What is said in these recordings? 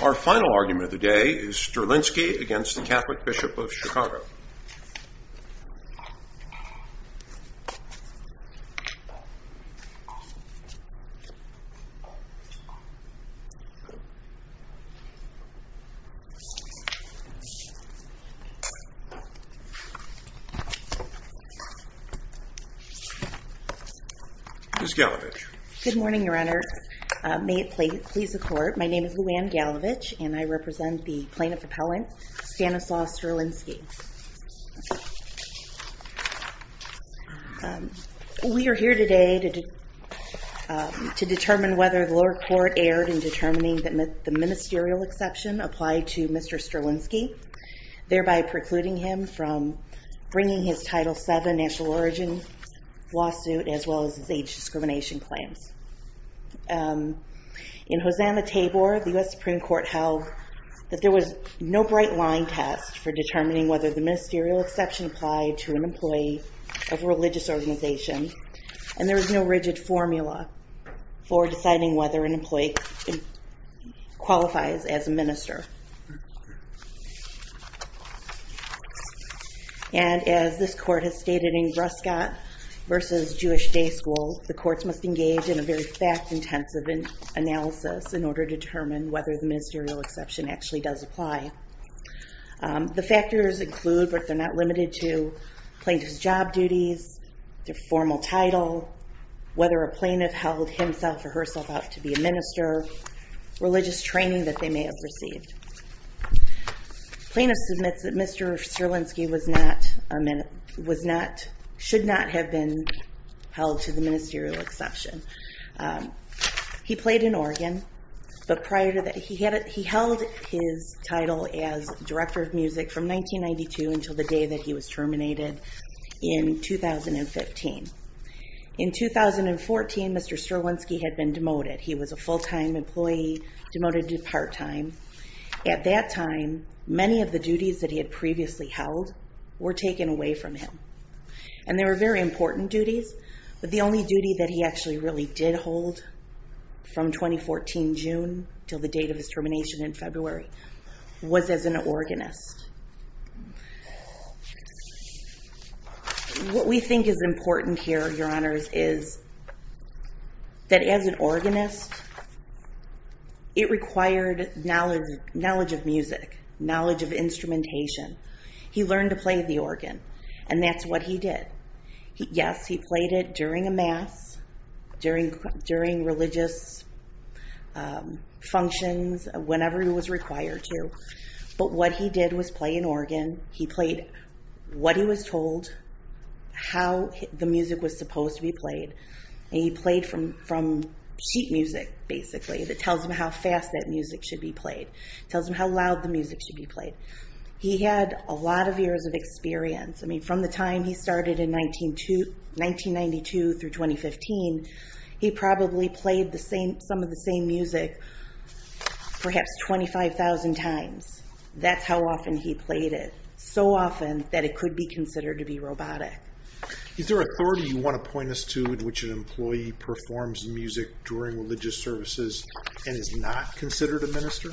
Our final argument of the day is Sterlinski v. Catholic Bishop of Chicago. Ms. Galevich. Good morning, Your Honor. May it please the Court, my name is Lou Anne Galevich and I represent the Plaintiff Appellant Stanislaw Sterlinski. We are here today to determine whether the lower court erred in determining that the ministerial exception applied to Mr. Sterlinski, thereby precluding him from bringing his Title VII national origin lawsuit as well as his age discrimination claims. In Hosanna-Tabor, the U.S. Supreme Court held that there was no bright line test for determining whether the ministerial exception applied to an employee of a religious organization and there was no rigid formula for deciding whether an employee qualifies as a minister. And as this Court has stated in Brescott v. Jewish Day School, the courts must engage in a very fact-intensive analysis in order to determine whether the The factors include, but they're not limited to, plaintiff's job duties, their formal title, whether a plaintiff held himself or herself out to be a minister, religious training that they may have received. Plaintiff submits that Mr. Sterlinski should not have been held to the as Director of Music from 1992 until the day that he was terminated in 2015. In 2014, Mr. Sterlinski had been demoted. He was a full-time employee, demoted to part-time. At that time, many of the duties that he had previously held were taken away from him. And they were very important duties, but the only duty that he actually really did hold from 2014, June, until the date of his termination in February, was as an organist. What we think is important here, Your Honors, is that as an organist, it required knowledge of music, knowledge of instrumentation. He learned to play the organ, and that's what he did. Yes, he played it during a mass, during religious functions, whenever he was required to, but what he did was play an organ. He played what he was told, how the music was supposed to be played, and he played from sheet music, basically, that tells him how fast that music should be played, tells him how loud the music should be played. He had a lot of years of experience. I mean, from the time he started in 1992 through 2015, he probably played some of the same music perhaps 25,000 times. That's how often he played it, so often that it could be considered to be robotic. Is there an authority you want to point us to in which an employee performs music during religious services and is not considered a minister?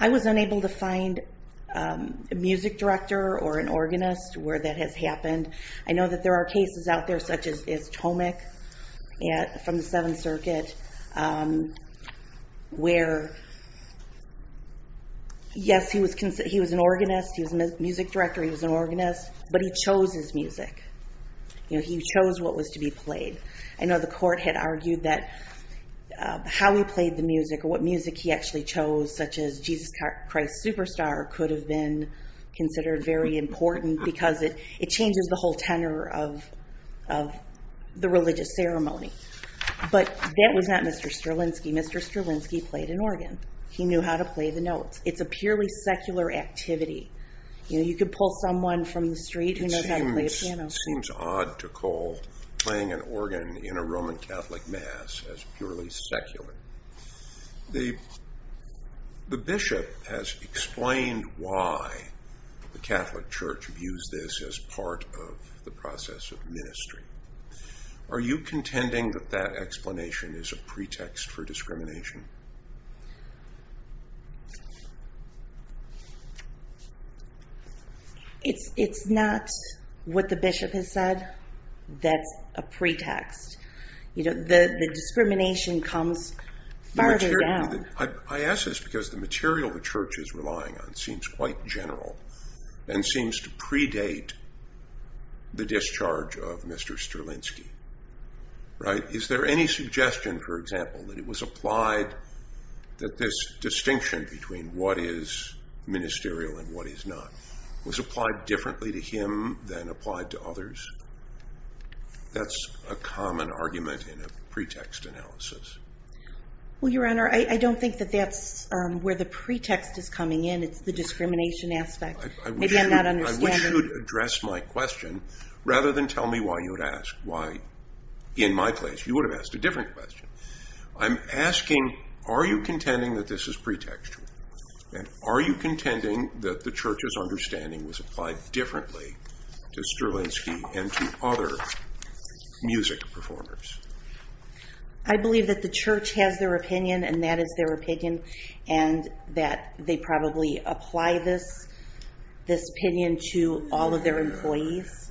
I was unable to find a music director or an organist where that has happened. I know that there are cases out there, such as Tomek from the Seventh Circuit, where yes, he was an organist, he was a music director, he was an organist, but he chose his music. He chose what was to be played. I know the court had argued that how he played the music or what music he actually chose, such as Jesus Christ Superstar, could have been considered very important because it changes the whole tenor of the religious ceremony. But that was not Mr. Strelinsky. Mr. Strelinsky played an organ. He knew how to play the notes. It's a purely secular activity. You could pull someone from the street who knows how to play a piano. It seems odd to call playing an organ in a Roman Catholic mass as purely secular. The bishop has explained why the Catholic Church views this as part of the process of ministry. Are you contending that that explanation is a pretext for discrimination? It's not what the bishop has said that's a pretext. The discrimination comes farther down. I ask this because the material the Church is relying on seems quite general and seems to predate the discharge of Mr. Strelinsky. Is there any suggestion, for example, that it was implied that this distinction between what is ministerial and what is not was applied differently to him than applied to others? That's a common argument in a pretext analysis. Your Honor, I don't think that that's where the pretext is coming in. It's the discrimination aspect. Maybe I'm not understanding. I wish you'd address my question rather than tell me why you would ask. In my place, you would have asked a different question. I'm asking, are you contending that this is pretextual? Are you contending that the Church's understanding was applied differently to Strelinsky and to other music performers? I believe that the Church has their opinion and that is their opinion and that they probably apply this opinion to all of their employees.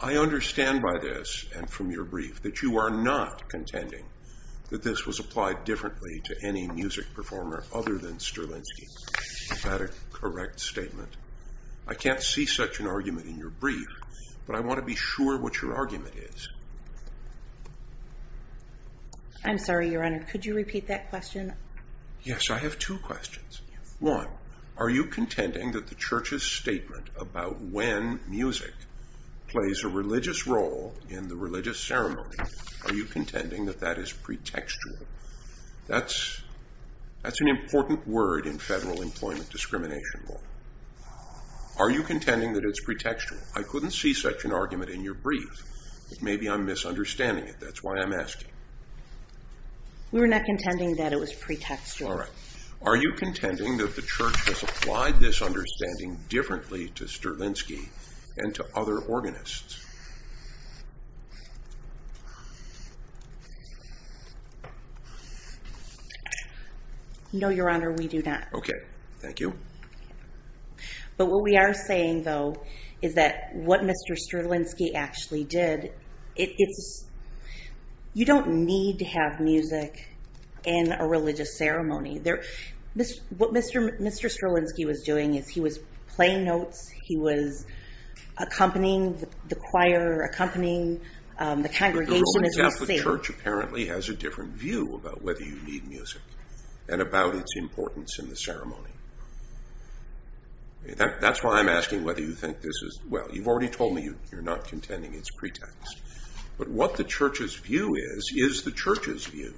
I understand by this and from your brief that you are not contending that this was applied differently to any music performer other than Strelinsky. Is that a correct statement? I can't see such an argument in your brief, but I want to be sure what your argument is. I'm sorry, Your Honor. Could you repeat that question? Yes, I have two questions. One, are you contending that the Church's statement about when music plays a religious role in the religious ceremony, are you contending that that is pretextual? That's an important word in federal employment discrimination law. Are you contending that it's pretextual? I couldn't see such an argument in your brief. Maybe I'm misunderstanding it. That's why I'm asking. We're not contending that it was pretextual. All right. Are you contending that the Church has applied this understanding differently to Strelinsky and to other organists? No, Your Honor, we do not. Okay. Thank you. But what we are saying, though, is that what Mr. Strelinsky actually did, it's... You don't need to have music in a religious ceremony. What Mr. Strelinsky was doing is he was playing notes, he was accompanying the choir, accompanying the congregation as we see it. The Roman Catholic Church apparently has a different view about whether you need music and about its importance in the ceremony. That's why I'm asking whether you think this is... Well, you've already told me you're not contending it's pretext. But what the Church's view is, is the Church's view,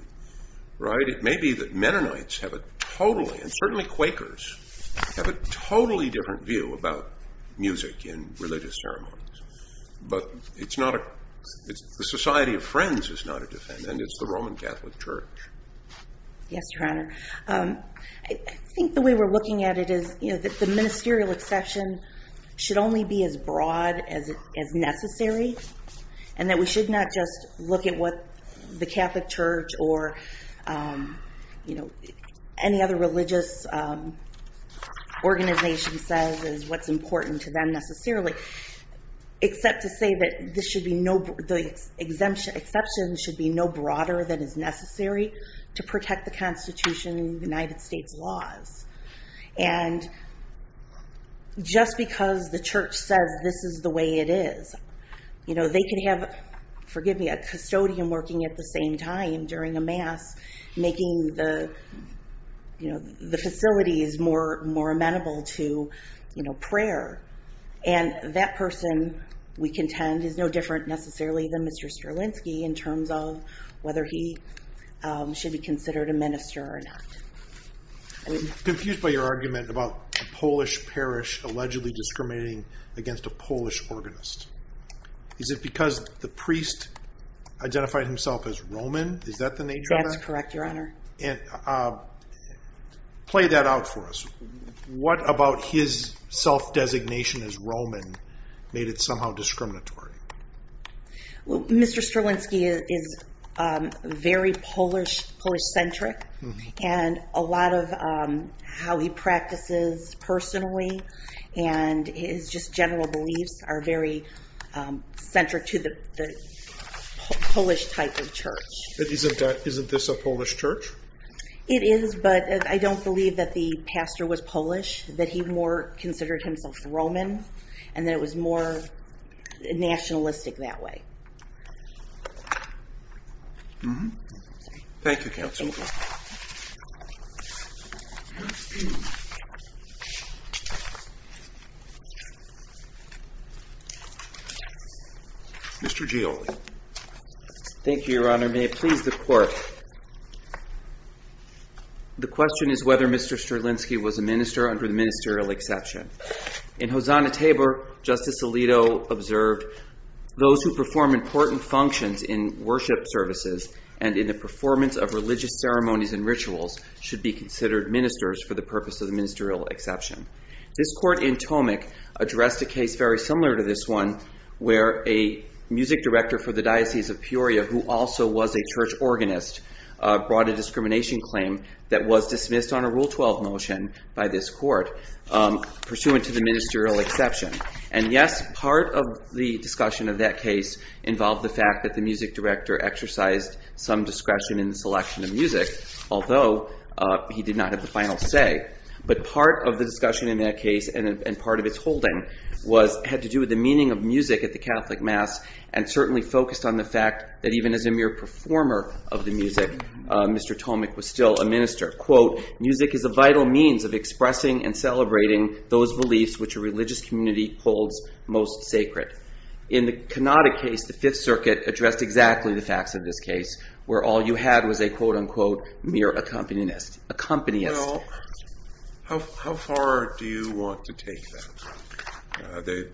right? It may be that Mennonites have a totally, and certainly Quakers, have a totally different view about music in religious ceremonies. But it's not a... The Society of Friends is not a different, and it's the Roman Catholic Church. Yes, Your Honor. I think the way we're looking at it is that the ministerial exception should only be as broad as necessary, and that we should not just look at what the Catholic Church or any other religious organization says is what's important to them necessarily, except to say that the exception should be no broader than is necessary to protect the Constitution and the United States laws. And just because the Church says this is the way it is, they can have, forgive me, a custodian working at the same time during a Mass, making the facilities more amenable to prayer. And that person, we contend, is no different necessarily than Mr. Strelinsky in terms of whether he should be considered a minister or not. I'm confused by your argument about a Polish parish allegedly discriminating against a Polish organist. Is it because the priest identified himself as Roman? Is that the nature of that? That's correct, Your Honor. Play that out for us. What about his self-designation as Roman made it somehow discriminatory? Mr. Strelinsky is very Polish-centric, and a lot of how he practices personally and his just general beliefs are very centric to the Polish type of church. Isn't this a Polish church? It is, but I don't believe that the pastor was Polish, that he more considered himself Roman, and that it was more nationalistic that way. Thank you, Counsel. Mr. Gioli. Thank you, Your Honor. May it please the Court. The question is whether Mr. Strelinsky was a minister under the ministerial exception. In Hosanna Tabor, Justice Alito observed, those who perform important functions in worship services and in the performance of religious ceremonies and rituals should be considered ministers for the purpose of the ministerial exception. This Court in Tomek addressed a case very similar to this one where a music director for the Diocese of Peoria who also was a church organist brought a discrimination claim that was dismissed on a Rule 12 motion by this Court pursuant to the ministerial exception. And yes, part of the discussion of that case involved the fact that the music director exercised some discretion in the selection of music, although he did not have the final say. But part of the discussion in that case and part of its holding had to do with the meaning of music at the Catholic Mass and certainly focused on the fact that even as a mere performer of the music, Mr. Tomek was still a minister. Quote, music is a vital means of expressing and celebrating those beliefs which a religious community holds most sacred. In the Kanada case, the Fifth Circuit addressed exactly the facts of this case where all you had was a, quote, unquote, mere accompanist. Well, how far do you want to take that?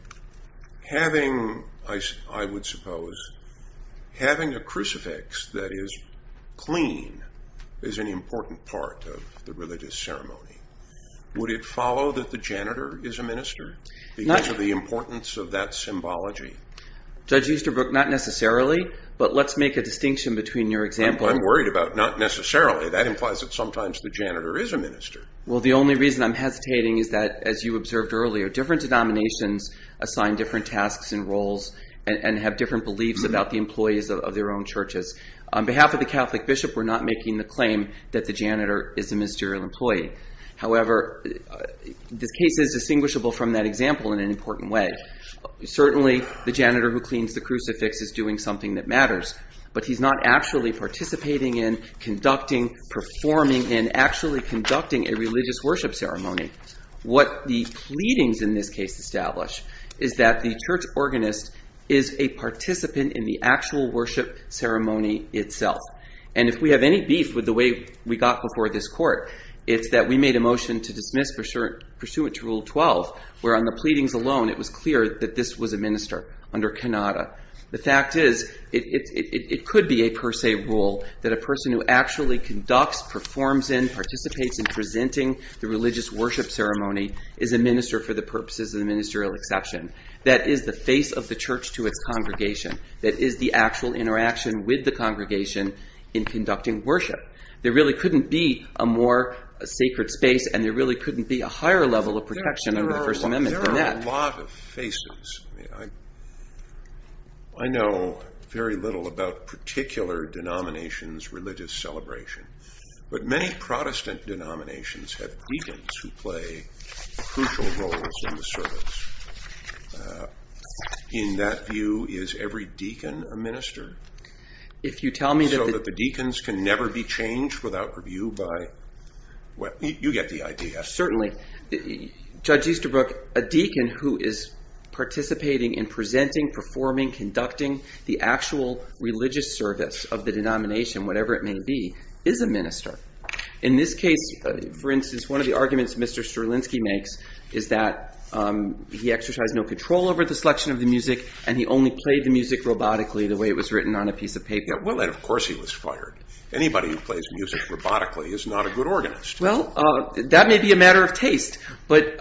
Having, I would suppose, having a crucifix that is clean is an important part of the religious ceremony. Would it follow that the janitor is a minister because of the importance of that symbology? Judge Easterbrook, not necessarily, but let's make a distinction between your example. I'm worried about not necessarily. That implies that sometimes the janitor is a minister. Well, the only reason I'm hesitating is that, as you observed earlier, different denominations assign different tasks and roles and have different beliefs about the employees of their own churches. On behalf of the Catholic bishop, we're not making the claim that the janitor is a ministerial employee. However, this case is distinguishable from that example in an important way. Certainly, the janitor who cleans the crucifix is doing something that matters, but he's not actually participating in, conducting, performing, and actually conducting a religious worship ceremony. What the pleadings in this case establish is that the church organist is a participant in the actual worship ceremony itself. And if we have any beef with the way we got before this court, it's that we made a motion to dismiss pursuant to Rule 12, where on the pleadings alone, it was clear that this was a minister under Kenada. The fact is, it could be a per se rule that a person who actually conducts, performs in, and participates in presenting the religious worship ceremony is a minister for the purposes of the ministerial exception. That is the face of the church to its congregation. That is the actual interaction with the congregation in conducting worship. There really couldn't be a more sacred space, and there really couldn't be a higher level of protection under the First Amendment than that. There are a lot of faces. I know very little about particular denominations' religious celebration, but many Protestant denominations have deacons who play crucial roles in the service. In that view, is every deacon a minister? So that the deacons can never be changed without review by... Well, you get the idea. Certainly. Judge Easterbrook, a deacon who is participating in presenting, performing, conducting the actual religious service of the denomination, whatever it may be, is a minister. In this case, for instance, one of the arguments Mr. Strelinsky makes is that he exercised no control over the selection of the music and he only played the music robotically the way it was written on a piece of paper. Well, then of course he was fired. Anybody who plays music robotically is not a good organist. Well, that may be a matter of taste, but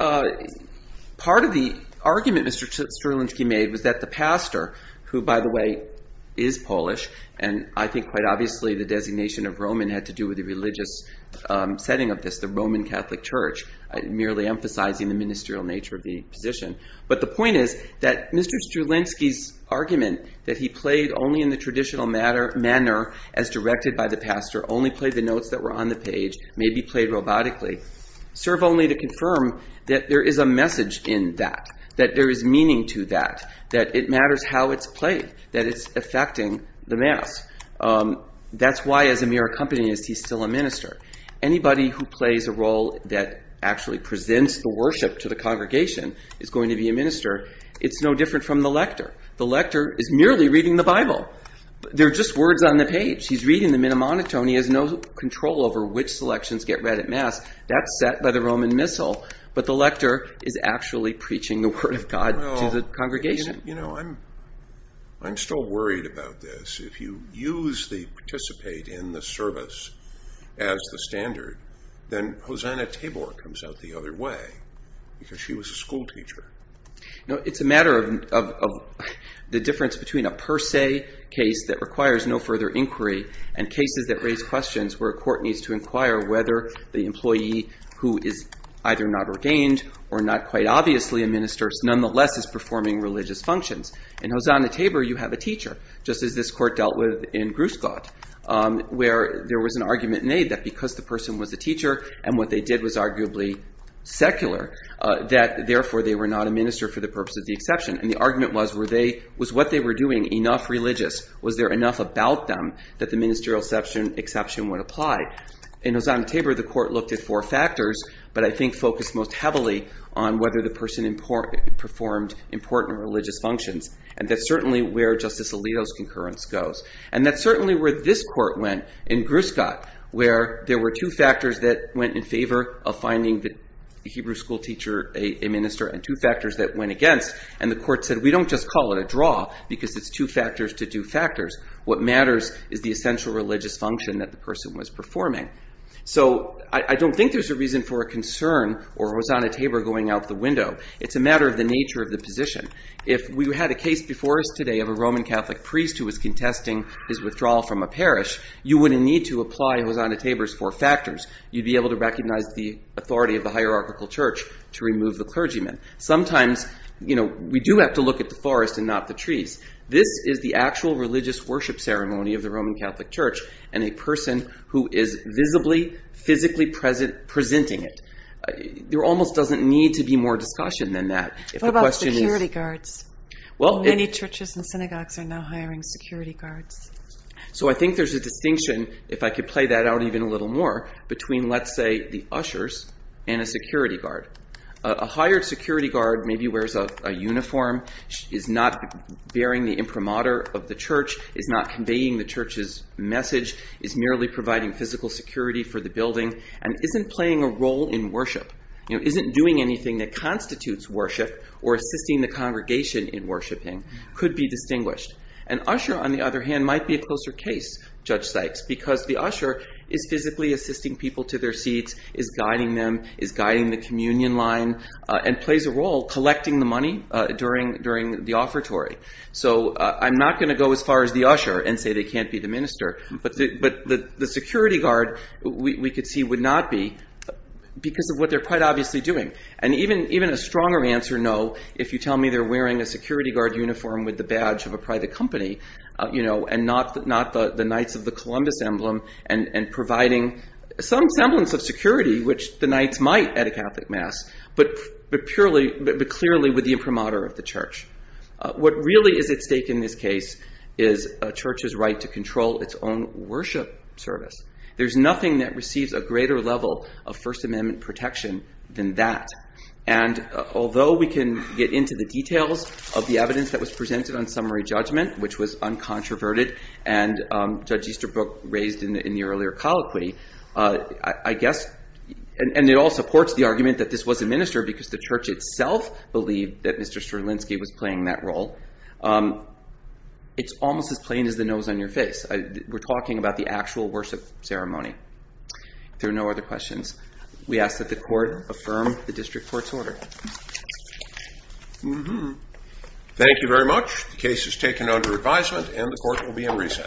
part of the argument Mr. Strelinsky made was that the pastor, who by the way is Polish, and I think quite obviously the designation of Roman had to do with the religious setting of this, the Roman Catholic Church, merely emphasizing the ministerial nature of the position. But the point is that Mr. Strelinsky's argument that he played only in the traditional manner as directed by the pastor, only played the notes that were on the page, may be played robotically, serve only to confirm that there is a message in that, that there is meaning to that, that it matters how it's played, that it's affecting the mass. That's why as a mere accompanist he's still a minister. Anybody who plays a role that actually presents the worship to the congregation is going to be a minister. It's no different from the lector. The lector is merely reading the Bible. They're just words on the page. He's reading them in a monotone. He has no control over which selections get read at mass. That's set by the Roman Missal, but the lector is actually preaching the word of God to the congregation. I'm still worried about this. If you use the participate in the service as the standard, then Hosanna Tabor comes out the other way because she was a school teacher. It's a matter of the difference between a per se case that requires no further inquiry and cases that raise questions where a court needs to inquire whether the employee who is either not ordained or not quite obviously a minister nonetheless is performing religious functions. In Hosanna Tabor you have a teacher, just as this court dealt with in Gruscott, where there was an argument made that because the person was a teacher and what they did was arguably secular, that therefore they were not a minister for the purpose of the exception. The argument was, was what they were doing enough religious? Was there enough about them that the ministerial exception would apply? In Hosanna Tabor the court looked at four factors but I think focused most heavily on whether the person performed important religious functions and that's certainly where Justice Alito's concurrence goes and that's certainly where this court went in Gruscott where there were two factors that went in favor of finding the Hebrew school teacher a minister and two factors that went against and the court said we don't just call it a draw because it's two factors to two factors what matters is the essential religious function that the person was performing. So I don't think there's a reason for a concern or Hosanna Tabor going out the window. It's a matter of the nature of the position. If we had a case before us today of a Roman Catholic priest who was contesting his withdrawal from a parish, you wouldn't need to apply Hosanna Tabor's four factors. You'd be able to recognize the authority of the hierarchical church to remove the clergyman. Sometimes we do have to look at the forest and not the trees. This is the actual religious worship ceremony of the Roman Catholic Church and a person who is visibly, physically presenting it. There almost doesn't need to be more discussion than that. What about security guards? Many churches and synagogues are now hiring security guards. So I think there's a distinction, if I could play that out even a little more, between let's say the ushers and a security guard. A hired security guard maybe wears a uniform, is not bearing the imprimatur of the church, is not conveying the church's message, is merely providing physical security for the building, and isn't playing a role in worship, isn't doing anything that constitutes worship or assisting the congregation in worshiping could be distinguished. An usher, on the other hand, might be a closer case, Judge Sykes, because the usher is physically assisting people to their seats, is guiding them, is guiding the communion line, and plays a role collecting the money during the offertory. So I'm not going to go as far as the usher and say they can't be the minister, but the security guard we could see would not be because of what they're quite obviously doing. And even a stronger answer, no, if you tell me they're wearing a security guard uniform with the badge of a private company and not the Knights of the Columbus emblem and providing some semblance of security which the Knights might at a Catholic Mass, but clearly with the imprimatur of the church. What really is at stake in this case is a church's right to control its own worship service. There's nothing that receives a greater level And although we can get into the details of the evidence that was presented on summary judgment, which was uncontroverted, and Judge Easterbrook raised in the earlier colloquy, I guess and it all supports the argument that this was a minister because the church itself believed that Mr. Strelinsky was playing that role. It's almost as plain as the nose on your face. We're talking about the actual worship ceremony. If there are no other questions we ask that the court affirm the district court's order. Thank you very much. The case is taken under advisement and the court will be in recess.